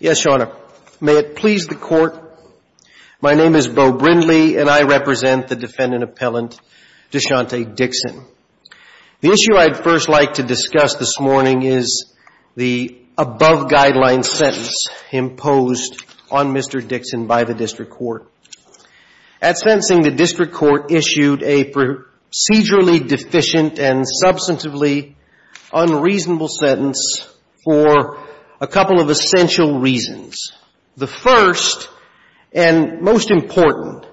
Yes, Your Honor. May it please the Court, my name is Beau Brindley, and I represent the defendant appellant Deshonte Dickson. The issue I'd first like to discuss this morning is the above-guideline sentence imposed on Mr. Dickson by the District Court. At sentencing, the District Court issued a procedurally deficient and substantively unreasonable sentence for a couple of essential reasons. The first and most important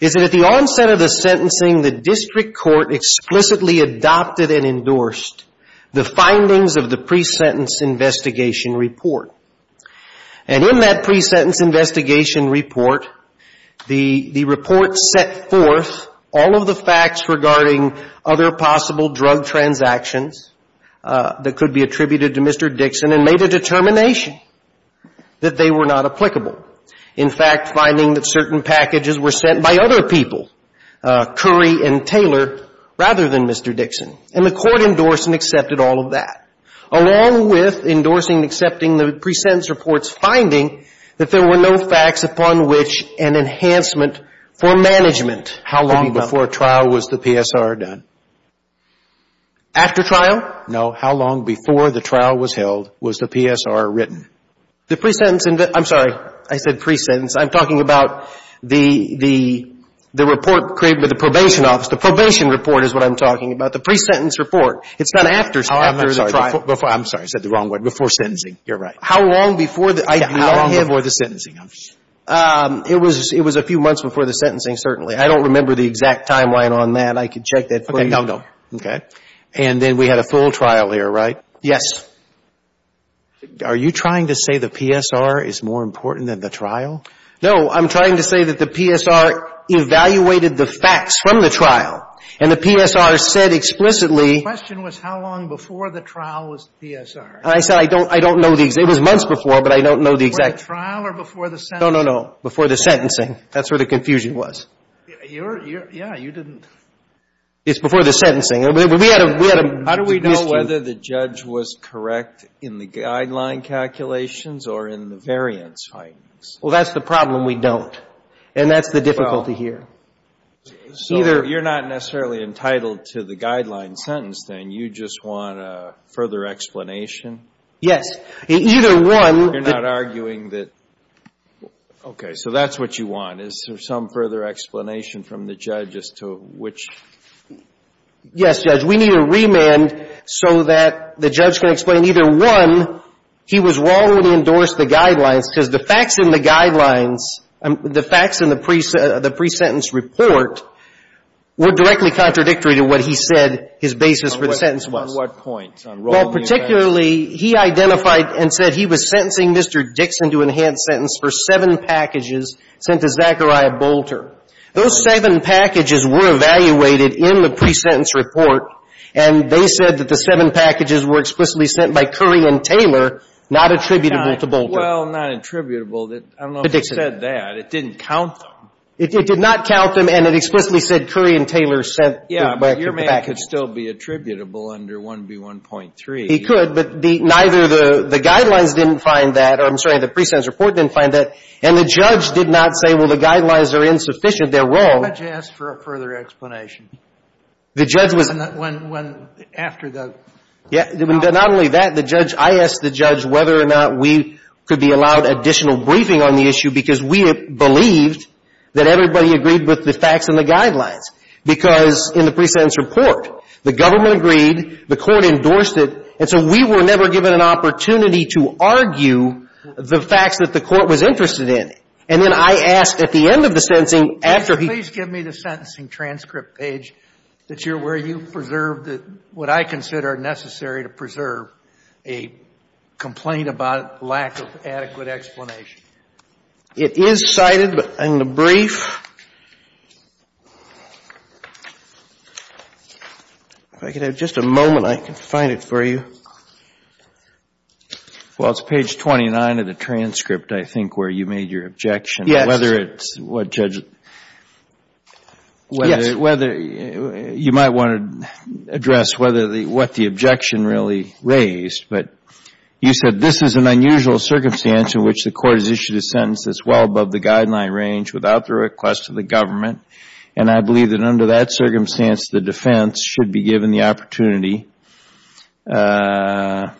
is that at the of the pre-sentence investigation report. And in that pre-sentence investigation report, the report set forth all of the facts regarding other possible drug transactions that could be attributed to Mr. Dickson and made a determination that they were not applicable. In fact, finding that certain packages were sent by other people, Curry and Taylor, rather than Mr. Dickson. And the Court endorsed and accepted all of that, along with endorsing and accepting the pre-sentence report's finding that there were no facts upon which an enhancement for management could be done. How long before trial was the PSR done? After trial? No. How long before the trial was held was the PSR written? The pre-sentence, I'm sorry, I said pre-sentence. I'm talking about the report created by the pre-sentence report. It's done after the trial. I'm sorry. I said the wrong word. Before sentencing. You're right. How long before the IPO? How long before the sentencing? It was a few months before the sentencing, certainly. I don't remember the exact timeline on that. I could check that for you. Okay. No, no. Okay. And then we had a full trial here, right? Yes. Are you trying to say the PSR is more important than the trial? No. I'm trying to say that the PSR evaluated the facts from the trial. And the PSR said explicitly The question was how long before the trial was the PSR. I said I don't know the exact. It was months before, but I don't know the exact. Before the trial or before the sentencing? No, no, no. Before the sentencing. That's where the confusion was. Yeah. You didn't It's before the sentencing. We had a How do we know whether the judge was correct in the guideline calculations or in the variance findings? Well, that's the problem. We don't. And that's the difficulty here. So you're not necessarily entitled to the guideline sentence, then. You just want a further explanation? Yes. Either one You're not arguing that Okay. So that's what you want. Is there some further explanation from the judge as to which Yes, Judge. We need a remand so that the judge can explain either, one, he was wrong when he endorsed the guidelines because the facts in the guidelines, the facts in the pre-sentence report were directly contradictory to what he said his basis for the sentence was. On what point? Well, particularly, he identified and said he was sentencing Mr. Dixon to enhanced sentence for seven packages sent to Zachariah Bolter. Those seven packages were evaluated in the pre-sentence report, and they said that the seven packages were explicitly sent by Curry and Taylor, not attributable to Bolter. Well, not attributable. I don't know who said that. It didn't count them. It did not count them, and it explicitly said Curry and Taylor sent the package. Yeah, but your man could still be attributable under 1B1.3. He could, but neither the guidelines didn't find that, or I'm sorry, the pre-sentence report didn't find that, and the judge did not say, well, the guidelines are insufficient, they're wrong. Why don't you ask for a further explanation? The judge was When, after the Not only that, the judge, I asked the judge whether or not we could be allowed additional briefing on the issue because we believed that everybody agreed with the facts and the guidelines. Because in the pre-sentence report, the government agreed, the court endorsed it, and so we were never given an opportunity to argue the facts that the court was interested in. And then I asked at the end of the sentencing, after he transcript page that you're aware you preserved what I consider necessary to preserve a complaint about lack of adequate explanation? It is cited in the brief. If I could have just a moment, I can find it for you. Well, it's page 29 of the transcript, I think, where you made your objection. Yes. Whether it's what judge Yes. You might want to address what the objection really raised, but you said, this is an unusual circumstance in which the court has issued a sentence that's well above the guideline range without the request of the government, and I believe that under that circumstance, the defense should be given the opportunity to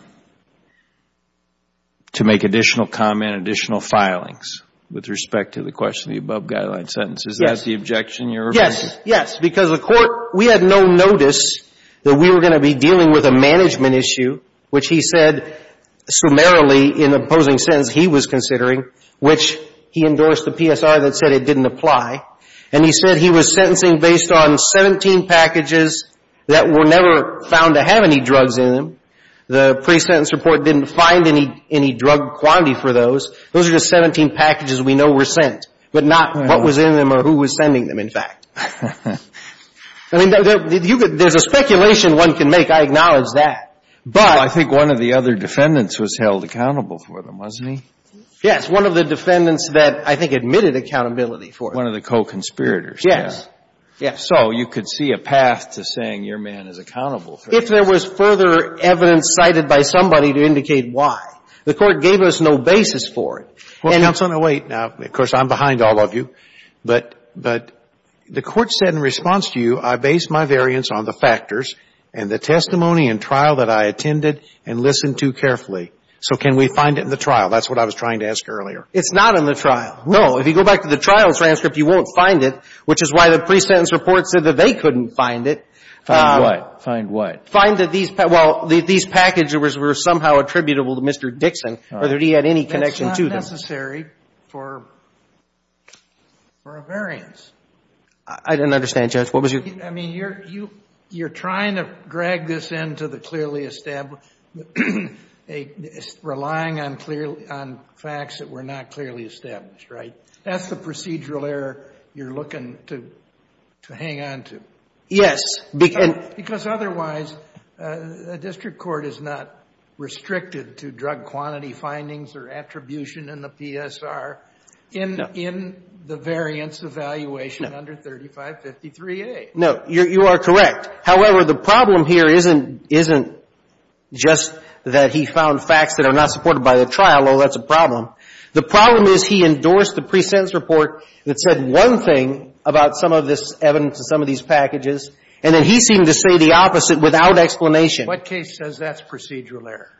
make additional comment, additional filings with respect to the question of the above guideline sentence. Yes. Is that the objection you're raising? Yes. Yes. Because the court, we had no notice that we were going to be dealing with a management issue, which he said summarily in the opposing sentence he was considering, which he endorsed the PSR that said it didn't apply, and he said he was sentencing based on 17 packages that were never found to have any drugs in them. The pre-sentence report didn't find any drug quantity for those. Those are just 17 packages we know were sent, but not what was in them or who was sending them, in fact. I mean, there's a speculation one can make. I acknowledge that. But I think one of the other defendants was held accountable for them, wasn't he? Yes. One of the defendants that I think admitted accountability for it. One of the co-conspirators. Yes. Yes. So you could see a path to saying your man is accountable for this. If there was further evidence cited by somebody to indicate why. The Court gave us no basis for it. Well, counsel, now wait. Now, of course, I'm behind all of you. But the Court said in response to you, I base my variance on the factors and the testimony and trial that I attended and listened to carefully. So can we find it in the trial? That's what I was trying to ask earlier. It's not in the trial. No. If you go back to the trial's transcript, you won't find it, which is why the pre-sentence report said that they couldn't find it. Find what? Find what? Find that these packages were somehow attributable to Mr. Dixon or that he had any connection to them. That's not necessary for a variance. I didn't understand, Judge. What was your question? I mean, you're trying to drag this into the clearly established, relying on facts that were not clearly established, right? That's the procedural error you're looking to hang on to. Yes. Because otherwise, a district court is not restricted to drug quantity findings or attribution in the PSR in the variance evaluation under 3553A. No. You are correct. However, the problem here isn't just that he found facts that are not supported by the trial, although that's a problem. The problem is he endorsed the pre-sentence report that said one thing about some of this evidence and some of these packages, and then he seemed to say the opposite without explanation. What case says that's procedural error?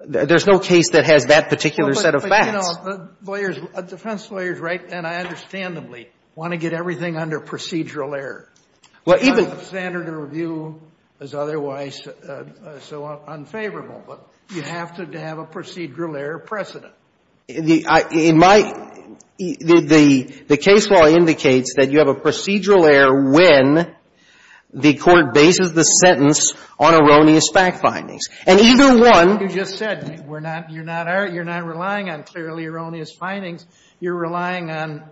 There's no case that has that particular set of facts. But, you know, lawyers, defense lawyers, right, and I understandably want to get everything under procedural error. Well, even the standard of review is otherwise so unfavorable, but you have to have a procedural error precedent. The case law indicates that you have a procedural error when the court bases the sentence on erroneous fact findings. And either one You just said you're not relying on clearly erroneous findings. You're relying on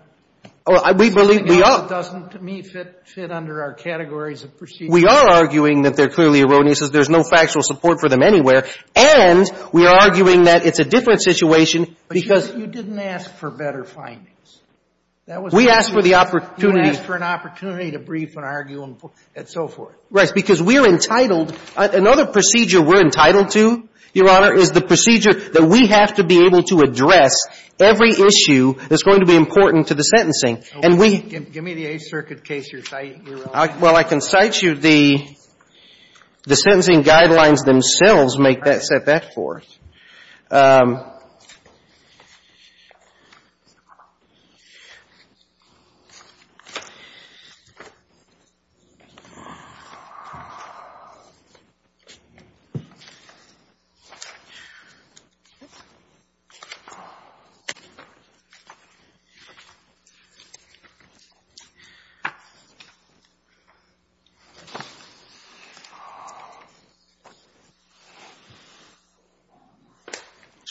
Well, we believe we are. It doesn't, to me, fit under our categories of procedural error. We are arguing that they're clearly erroneous because there's no factual support for them anywhere. And we are arguing that it's a different situation because But you didn't ask for better findings. That was We asked for the opportunity You asked for an opportunity to brief and argue and so forth. Right. Because we're entitled. Another procedure we're entitled to, Your Honor, is the procedure that we have to be every issue that's going to be important to the sentencing. And we Give me the Eighth Circuit case you're citing, Your Honor. Well, I can cite you the sentencing guidelines themselves make that, set that forth. Your Honor. Just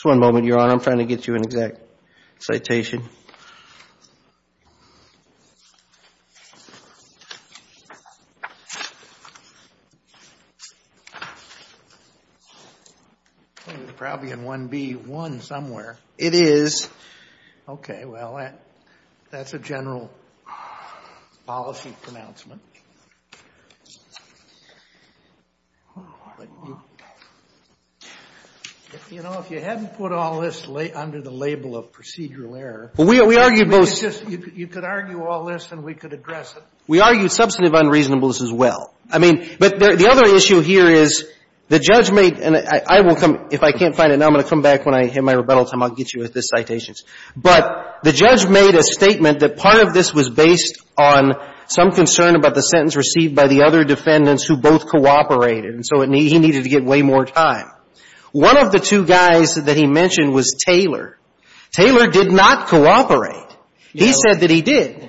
one moment, Your Honor. I'm trying to get you an exact citation. It's probably in 1B1 somewhere. It is. Okay. Well, that's a general policy pronouncement. You know, if you hadn't put all this under the label of procedural error. Well, we argued both You could argue all this and we could address it. We argued substantive unreasonableness as well. I mean, but the other issue here is the judge made, and I will come, if I can't find it now, I'm going to come back when I hit my rebuttal time, I'll get you the citations. But the judge made a statement that part of this was based on some concern about the sentence received by the other defendants who both cooperated. And so he needed to get way more time. One of the two guys that he mentioned was Taylor. Taylor did not cooperate. He said that he did.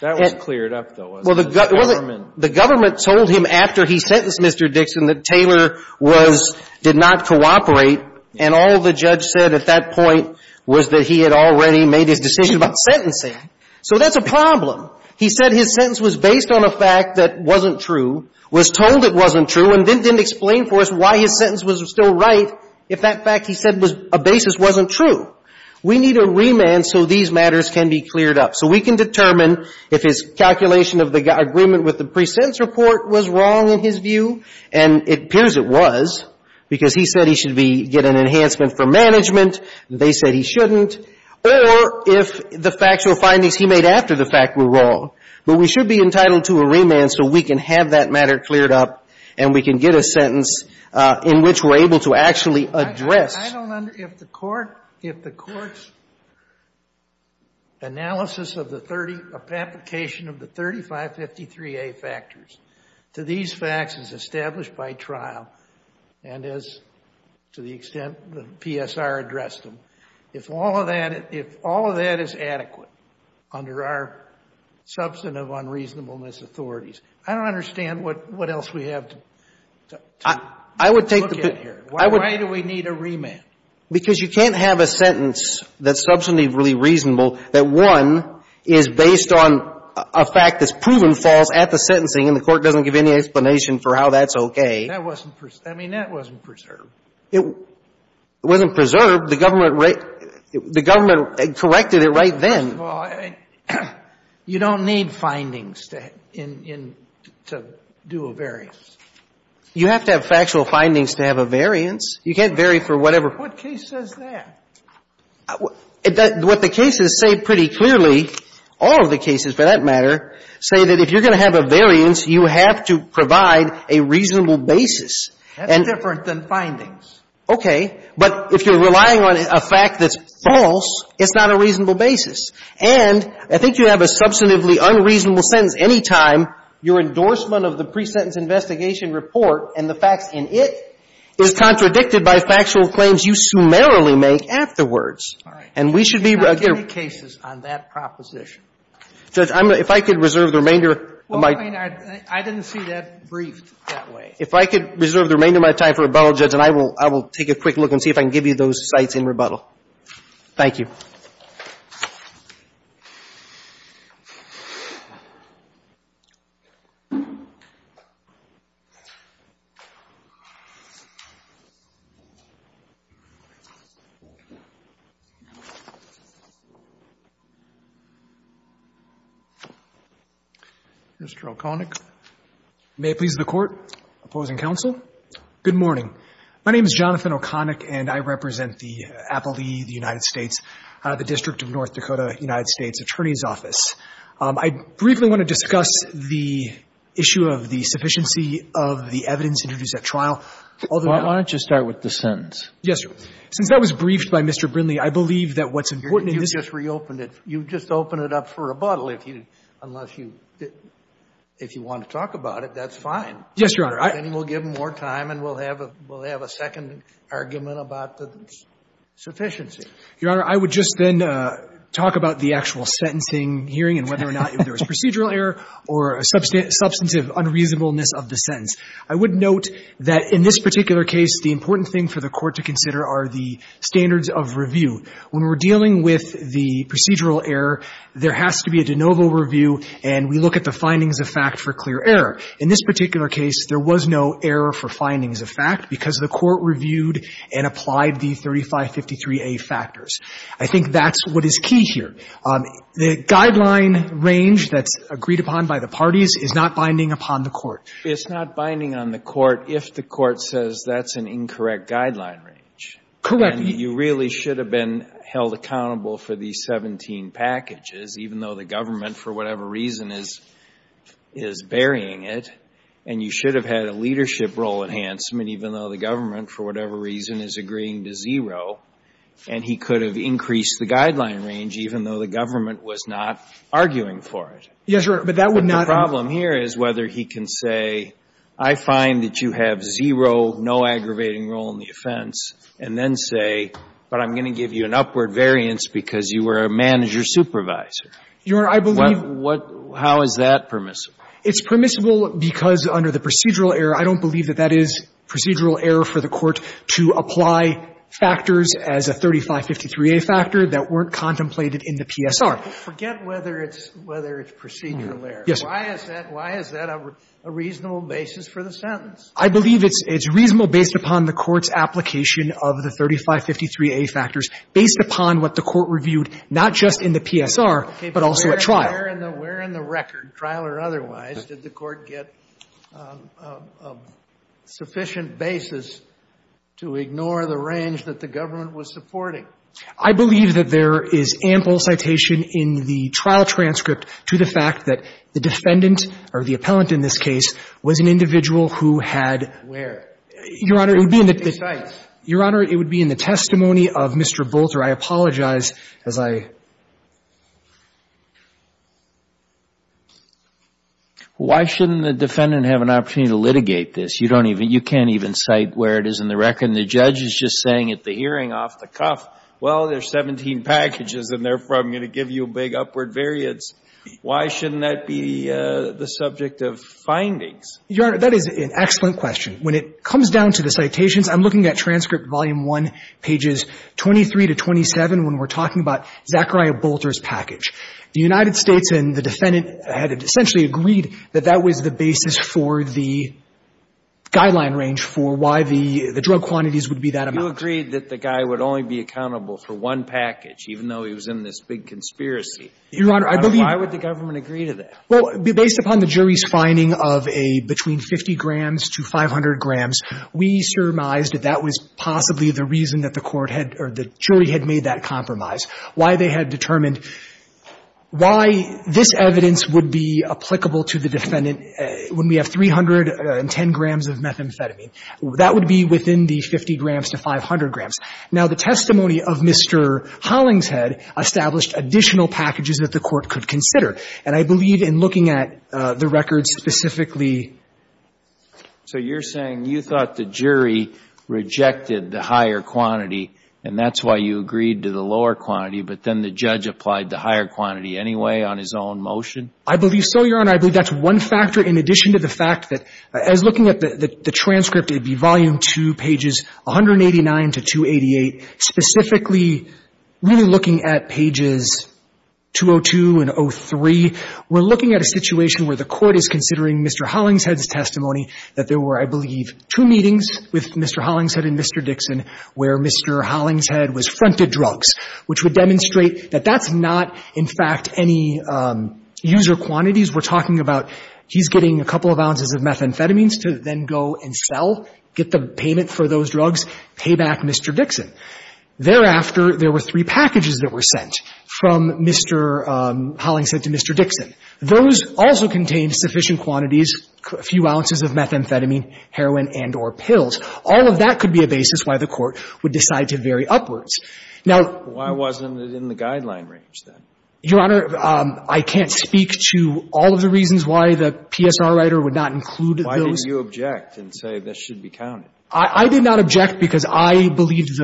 That was cleared up, though, wasn't it? The government told him after he sentenced Mr. Dixon that Taylor was, did not cooperate. And all the judge said at that point was that he had already made his decision about sentencing. So that's a problem. He said his sentence was based on a fact that wasn't true, was told it wasn't true, and then didn't explain for us why his sentence was still right if that fact he said was a basis wasn't true. We need a remand so these matters can be cleared up. So we can determine if his calculation of the agreement with the pre-sentence report was wrong in his view, and it appears it was, because he said he should be, get an enhancement for management. They said he shouldn't. Or if the factual findings he made after the fact were wrong. But we should be entitled to a remand so we can have that matter cleared up and we can get a sentence in which we're able to actually address. I don't under, if the court, if the court's analysis of the 30, application of the 3553A factors to these facts is established by trial, and as to the extent the PSR addressed them, if all of that, if all of that is adequate under our subject substantive unreasonableness authorities. I don't understand what else we have to look at here. Why do we need a remand? Because you can't have a sentence that's substantively reasonable that, one, is based on a fact that's proven false at the sentencing and the court doesn't give any explanation for how that's okay. That wasn't preserved. It wasn't preserved. The government corrected it right then. Well, you don't need findings to do a variance. You have to have factual findings to have a variance. You can't vary for whatever. What case says that? What the cases say pretty clearly, all of the cases, for that matter, say that if you're going to have a variance, you have to provide a reasonable basis. That's different than findings. Okay. But if you're relying on a fact that's false, it's not a reasonable basis. And I think you have a substantively unreasonable sentence any time your endorsement of the pre-sentence investigation report and the facts in it is contradicted by factual claims you summarily make afterwards. All right. And we should be agreeing. There are many cases on that proposition. Judge, if I could reserve the remainder of my time. Well, I mean, I didn't see that briefed that way. If I could reserve the remainder of my time for rebuttal, Judge, and I will take a quick look and see if I can give you those sites in rebuttal. Thank you. Mr. O'Connick. May it please the Court. Opposing counsel. Good morning. My name is Jonathan O'Connick, and I represent the Appellee, the United States, the District of North Dakota United States Attorney's Office. I briefly want to discuss the issue of the sufficiency of the evidence introduced at trial. Why don't you start with the sentence? Yes, Your Honor. Since that was briefed by Mr. Brinley, I believe that what's important in this case You just reopened it. You just opened it up for rebuttal. Unless you want to talk about it, that's fine. Yes, Your Honor. Then we'll give him more time, and we'll have a second argument about the sufficiency. Your Honor, I would just then talk about the actual sentencing hearing and whether or not there was procedural error or a substantive unreasonableness of the sentence. I would note that in this particular case, the important thing for the Court to consider are the standards of review. When we're dealing with the procedural error, there has to be a de novo review, and we look at the findings of fact for clear error. In this particular case, there was no error for findings of fact because the Court reviewed and applied the 3553A factors. I think that's what is key here. The guideline range that's agreed upon by the parties is not binding upon the Court. It's not binding on the Court if the Court says that's an incorrect guideline range. Correct. And you really should have been held accountable for the 17 packages, even though the government, for whatever reason, is burying it. And you should have had a leadership role enhancement, even though the government, for whatever reason, is agreeing to zero. And he could have increased the guideline range, even though the government was not arguing for it. Yes, Your Honor. But that would not have been. But the problem here is whether he can say, I find that you have zero, no aggravating role in the offense, and then say, but I'm going to give you an upward variance because you were a manager supervisor. Your Honor, I believe. How is that permissible? It's permissible because under the procedural error, I don't believe that that is procedural error for the Court to apply factors as a 3553A factor that weren't contemplated in the PSR. Forget whether it's procedural error. Yes, sir. Why is that a reasonable basis for the sentence? I believe it's reasonable based upon the Court's application of the 3553A factors based upon what the Court reviewed, not just in the PSR, but also at trial. Okay. But where in the record, trial or otherwise, did the Court get a sufficient basis to ignore the range that the government was supporting? I believe that there is ample citation in the trial transcript to the fact that the defendant, or the appellant in this case, was an individual who had. Where? Your Honor, it would be in the. The sites. Your Honor, it would be in the testimony of Mr. Bolter. I apologize as I. Why shouldn't the defendant have an opportunity to litigate this? You don't even, you can't even cite where it is in the record, and the judge is just saying at the hearing off the cuff, well, there's 17 packages, and therefore I'm going to give you a big upward variance. Why shouldn't that be the subject of findings? Your Honor, that is an excellent question. When it comes down to the citations, I'm looking at transcript volume 1, pages 23 to 27, when we're talking about Zachariah Bolter's package. The United States and the defendant had essentially agreed that that was the basis for the guideline range for why the drug quantities would be that amount. You agreed that the guy would only be accountable for one package, even though he was in this big conspiracy. Your Honor, I believe. Why would the government agree to that? Well, based upon the jury's finding of a between 50 grams to 500 grams, we surmised that that was possibly the reason that the court had or the jury had made that compromise. Why they had determined why this evidence would be applicable to the defendant when we have 310 grams of methamphetamine. That would be within the 50 grams to 500 grams. Now, the testimony of Mr. Hollingshead established additional packages that the court could consider. And I believe in looking at the records specifically. So you're saying you thought the jury rejected the higher quantity, and that's why you agreed to the lower quantity, but then the judge applied the higher quantity anyway on his own motion? I believe so, Your Honor. I believe that's one factor in addition to the fact that as looking at the transcript, pages 189 to 288, specifically really looking at pages 202 and 03, we're looking at a situation where the court is considering Mr. Hollingshead's testimony that there were, I believe, two meetings with Mr. Hollingshead and Mr. Dixon where Mr. Hollingshead was fronted drugs, which would demonstrate that that's not, in fact, any user quantities. We're talking about he's getting a couple of ounces of methamphetamines to then go and sell, get the payment for those drugs, pay back Mr. Dixon. Thereafter, there were three packages that were sent from Mr. Hollingshead to Mr. Dixon. Those also contained sufficient quantities, a few ounces of methamphetamine, heroin and or pills. All of that could be a basis why the court would decide to vary upwards. Now why wasn't it in the guideline range then? Your Honor, I can't speak to all of the reasons why the PSR writer would not include those. But I can speak to the fact that the PSR writer was not the one who was in the I mean, that's not the case.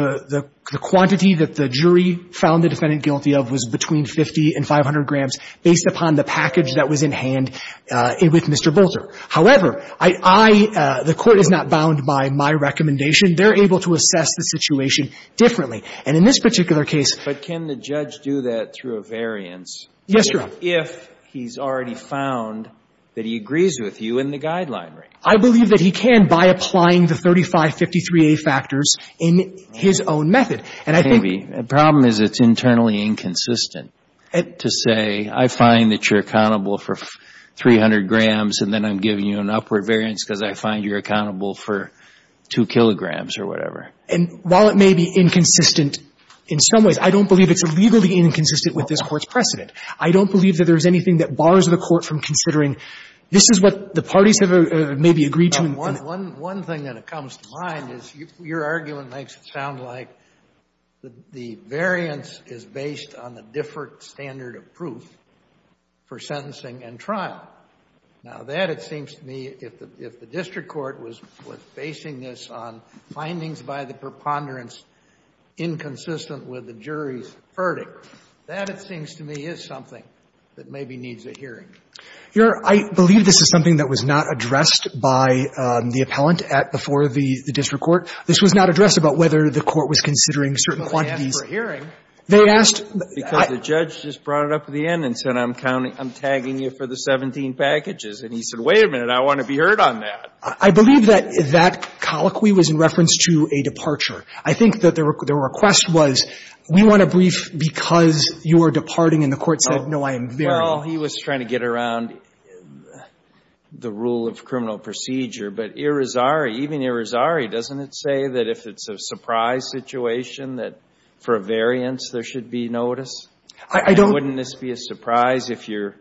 The fact that the jury found the defendant guilty of was between 50 and 500 grams based upon the package that was in hand with Mr. Bolter. However, I – the court is not bound by my recommendation. They're able to assess the situation differently. And in this particular case – But can the judge do that through a variance if he's already found that he agrees with you in the guideline range? I believe that he can by applying the 3553A factors in his own method. And I think – Maybe. The problem is it's internally inconsistent to say I find that you're accountable for 300 grams and then I'm giving you an upward variance because I find you're accountable for 2 kilograms or whatever. And while it may be inconsistent in some ways, I don't believe it's legally inconsistent with this Court's precedent. I don't believe that there's anything that bars the Court from considering this is what the parties have maybe agreed to. One thing that comes to mind is your argument makes it sound like the variance is based on a different standard of proof for sentencing and trial. Now, that, it seems to me, if the district court was basing this on findings by the preponderance inconsistent with the jury's verdict, that, it seems to me, is something that maybe needs a hearing. Your Honor, I believe this is something that was not addressed by the appellant at before the district court. This was not addressed about whether the court was considering certain quantities. Well, they asked for a hearing. They asked. Because the judge just brought it up at the end and said I'm tagging you for the 17 packages. And he said, wait a minute, I want to be heard on that. I believe that that colloquy was in reference to a departure. I think that their request was, we want a brief because you are departing and the court said, no, I am varying. Well, he was trying to get around the rule of criminal procedure. But Irizarry, even Irizarry, doesn't it say that if it's a surprise situation that for a variance there should be notice? I don't. And wouldn't this be a surprise if you're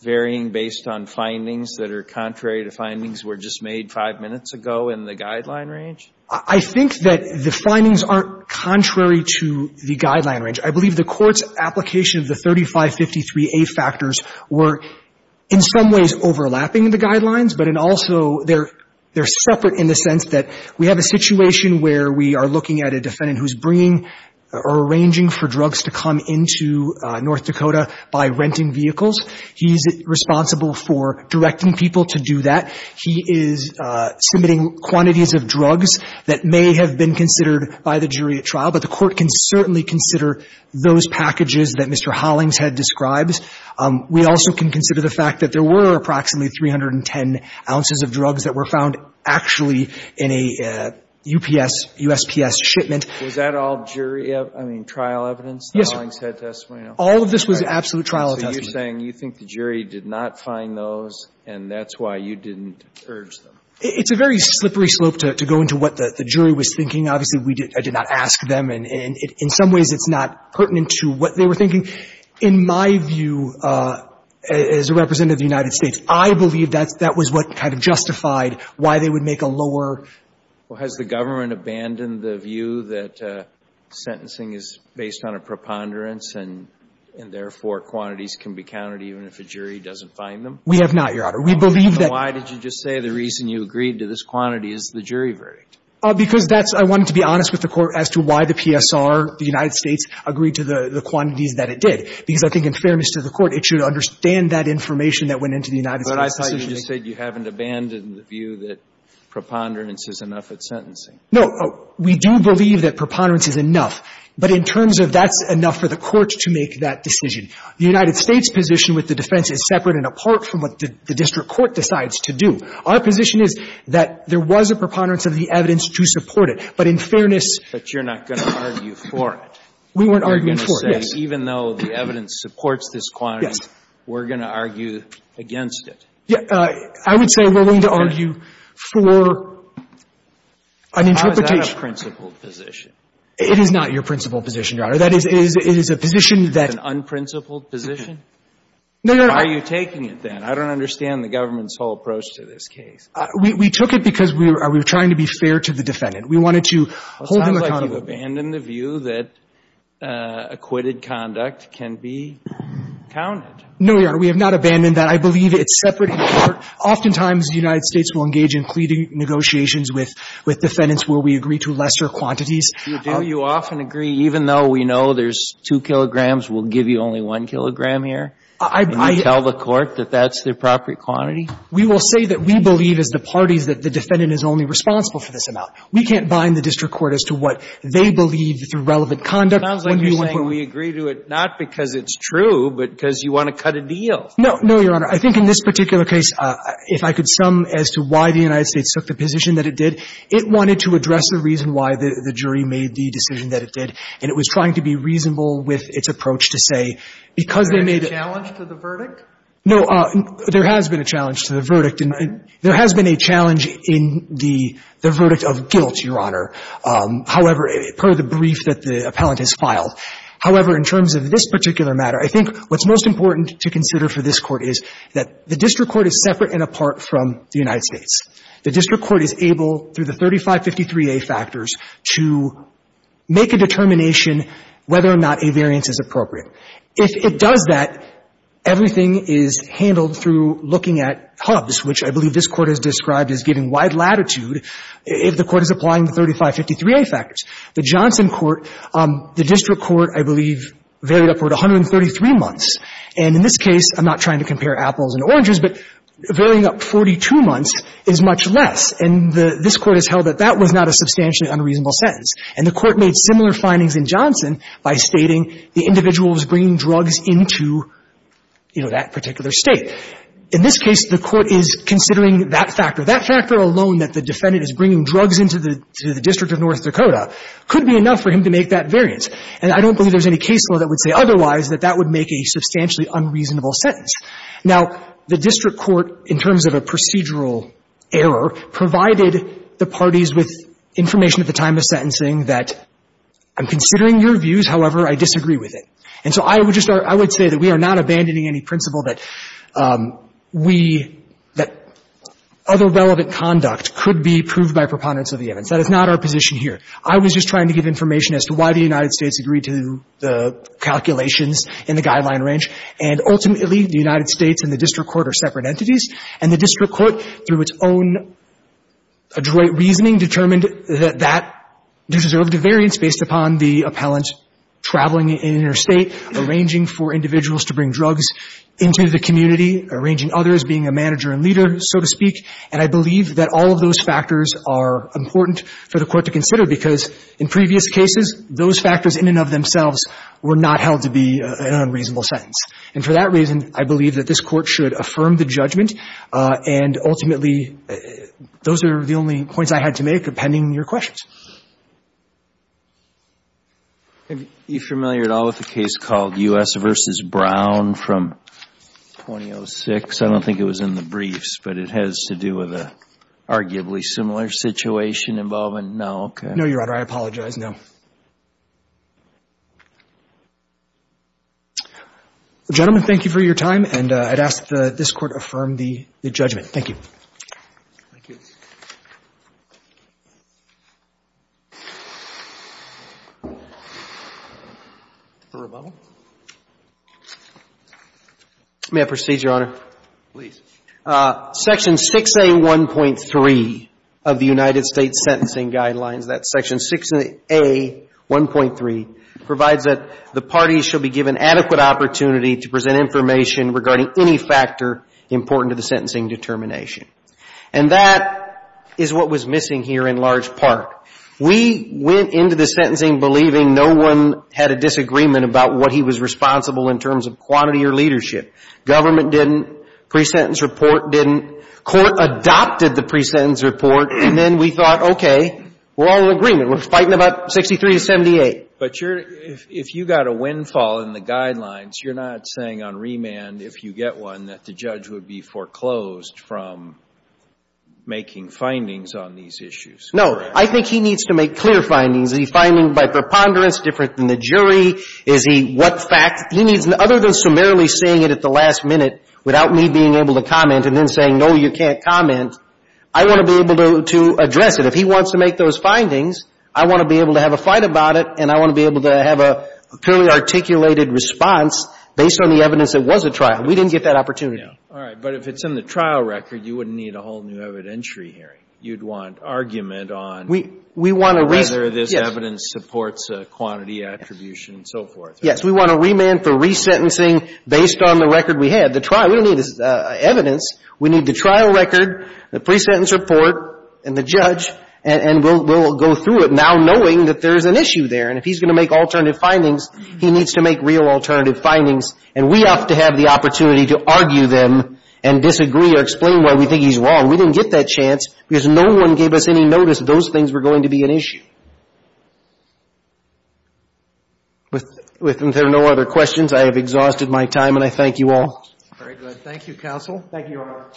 varying based on findings that are contrary to findings that were just made five minutes ago in the guideline range? I think that the findings aren't contrary to the guideline range. I believe the court's application of the 3553A factors were in some ways overlapping the guidelines, but in also they're separate in the sense that we have a situation where we are looking at a defendant who's bringing or arranging for drugs to come into North Dakota by renting vehicles. He's responsible for directing people to do that. He is submitting quantities of drugs that may have been considered by the jury at trial, but the court can certainly consider those packages that Mr. Hollingshead describes. We also can consider the fact that there were approximately 310 ounces of drugs that were found actually in a UPS, USPS shipment. Was that all jury, I mean, trial evidence, the Hollingshead testimony? Yes, sir. All of this was absolute trial attestment. So you're saying you think the jury did not find those, and that's why you didn't urge them? It's a very slippery slope to go into what the jury was thinking. Obviously, we did not ask them, and in some ways it's not pertinent to what they were thinking. In my view, as a representative of the United States, I believe that that was what kind of justified why they would make a lower argument. Well, has the government abandoned the view that sentencing is based on a preponderance and, therefore, quantities can be counted even if a jury doesn't find them? We have not, Your Honor. We believe that — Then why did you just say the reason you agreed to this quantity is the jury verdict? Because that's — I wanted to be honest with the Court as to why the PSR, the United States, agreed to the quantities that it did. Because I think in fairness to the Court, it should understand that information that went into the United States — But I thought you just said you haven't abandoned the view that preponderance is enough at sentencing. No. We do believe that preponderance is enough. But in terms of that's enough for the Court to make that decision. The United States' position with the defense is separate and apart from what the district court decides to do. Our position is that there was a preponderance of the evidence to support it. But in fairness — But you're not going to argue for it. We weren't arguing for it, yes. You're going to say even though the evidence supports this quantity, we're going to argue against it. Yes. I would say we're going to argue for an interpretation — How is that a principled position? It is not your principled position, Your Honor. That is, it is a position that — It's an unprincipled position? No, Your Honor. Why are you taking it, then? I don't understand the government's whole approach to this case. We took it because we were trying to be fair to the defendant. We wanted to hold him accountable. Well, it sounds like you've abandoned the view that acquitted conduct can be counted. No, Your Honor. We have not abandoned that. I believe it's separate and apart. Oftentimes, the United States will engage in pleading negotiations with defendants where we agree to lesser quantities. Do you often agree, even though we know there's two kilograms, we'll give you only one kilogram here? I — Can you tell the Court that that's the appropriate quantity? We will say that we believe as the parties that the defendant is only responsible for this amount. We can't bind the district court as to what they believe through relevant conduct when we want to — It sounds like you're saying we agree to it not because it's true, but because you want to cut a deal. No. No, Your Honor. I think in this particular case, if I could sum as to why the United States took the position that it did, it wanted to address the reason why the jury made the decision that it did, and it was trying to be reasonable with its approach to say, because they made a — Is there a challenge to the verdict? No. There has been a challenge to the verdict, and there has been a challenge in the verdict of guilt, Your Honor, however — per the brief that the appellant has filed. However, in terms of this particular matter, I think what's most important to consider for this Court is that the district court is separate and apart from the United States. The district court is able, through the 3553a factors, to make a determination whether or not a variance is appropriate. If it does that, everything is handled through looking at hubs, which I believe this Court has described as giving wide latitude if the Court is applying the 3553a factors. The Johnson court, the district court, I believe, varied upward 133 months. And in this case, I'm not trying to compare apples and oranges, but varying up 42 months is much less. And the — this Court has held that that was not a substantially unreasonable sentence. And the Court made similar findings in Johnson by stating the individual was bringing drugs into, you know, that particular State. In this case, the Court is considering that factor. That factor alone, that the defendant is bringing drugs into the — to the District of North Dakota, could be enough for him to make that variance. And I don't believe there's any case law that would say otherwise, that that would make a substantially unreasonable sentence. Now, the district court, in terms of a procedural error, provided the parties with information at the time of sentencing that, I'm considering your views. However, I disagree with it. And so I would just — I would say that we are not abandoning any principle that we — that other relevant conduct could be proved by preponderance of the evidence. That is not our position here. I was just trying to give information as to why the United States agreed to the calculations in the guideline range. And ultimately, the United States and the district court are separate entities. And the district court, through its own adroit reasoning, determined that that deserved a variance based upon the appellant traveling in interstate, arranging for individuals to bring drugs into the community, arranging others, being a manager and leader, so to speak. And I believe that all of those factors are important for the Court to consider because, in previous cases, those factors in and of themselves were not held to be an unreasonable sentence. And for that reason, I believe that this Court should affirm the judgment. And ultimately, those are the only points I had to make, pending your questions. Thank you. Are you familiar at all with the case called U.S. v. Brown from 2006? I don't think it was in the briefs, but it has to do with an arguably similar situation involvement? No? No, Your Honor. I apologize. No. Gentlemen, thank you for your time. And I'd ask that this Court affirm the judgment. Thank you. Thank you. May I proceed, Your Honor? Please. Section 6A.1.3 of the United States Sentencing Guidelines, that's Section 6A.1.3, provides that the parties shall be given adequate opportunity to present information regarding any factor important to the sentencing determination. And that is what was missing here in large part. We went into the sentencing believing no one had a disagreement about what he was responsible in terms of quantity or leadership. Government didn't. Pre-sentence report didn't. Court adopted the pre-sentence report. And then we thought, okay, we're all in agreement. We're fighting about 63 to 78. But if you got a windfall in the guidelines, you're not saying on remand, if you get one, that the judge would be foreclosed from making findings on these issues. No. I think he needs to make clear findings. Is he finding by preponderance different than the jury? Is he what facts? He needs, other than summarily saying it at the last minute without me being able to comment and then saying, no, you can't comment, I want to be able to address it. If he wants to make those findings, I want to be able to have a fight about it, and I want to be able to have a clearly articulated response based on the evidence it was a trial. Yeah. We didn't get that opportunity. All right. But if it's in the trial record, you wouldn't need a whole new evidentiary hearing. You'd want argument on whether this evidence supports a quantity attribution and so forth. Yes. We want a remand for resentencing based on the record we had. The trial, we don't need evidence. We need the trial record, the pre-sentence report, and the judge, and we'll go through it now knowing that there's an issue there. And if he's going to make alternative findings, he needs to make real alternative findings. And we have to have the opportunity to argue them and disagree or explain why we think he's wrong. We didn't get that chance because no one gave us any notice those things were going to be an issue. If there are no other questions, I have exhausted my time, and I thank you all. Very good. Thank you, counsel. Thank you all.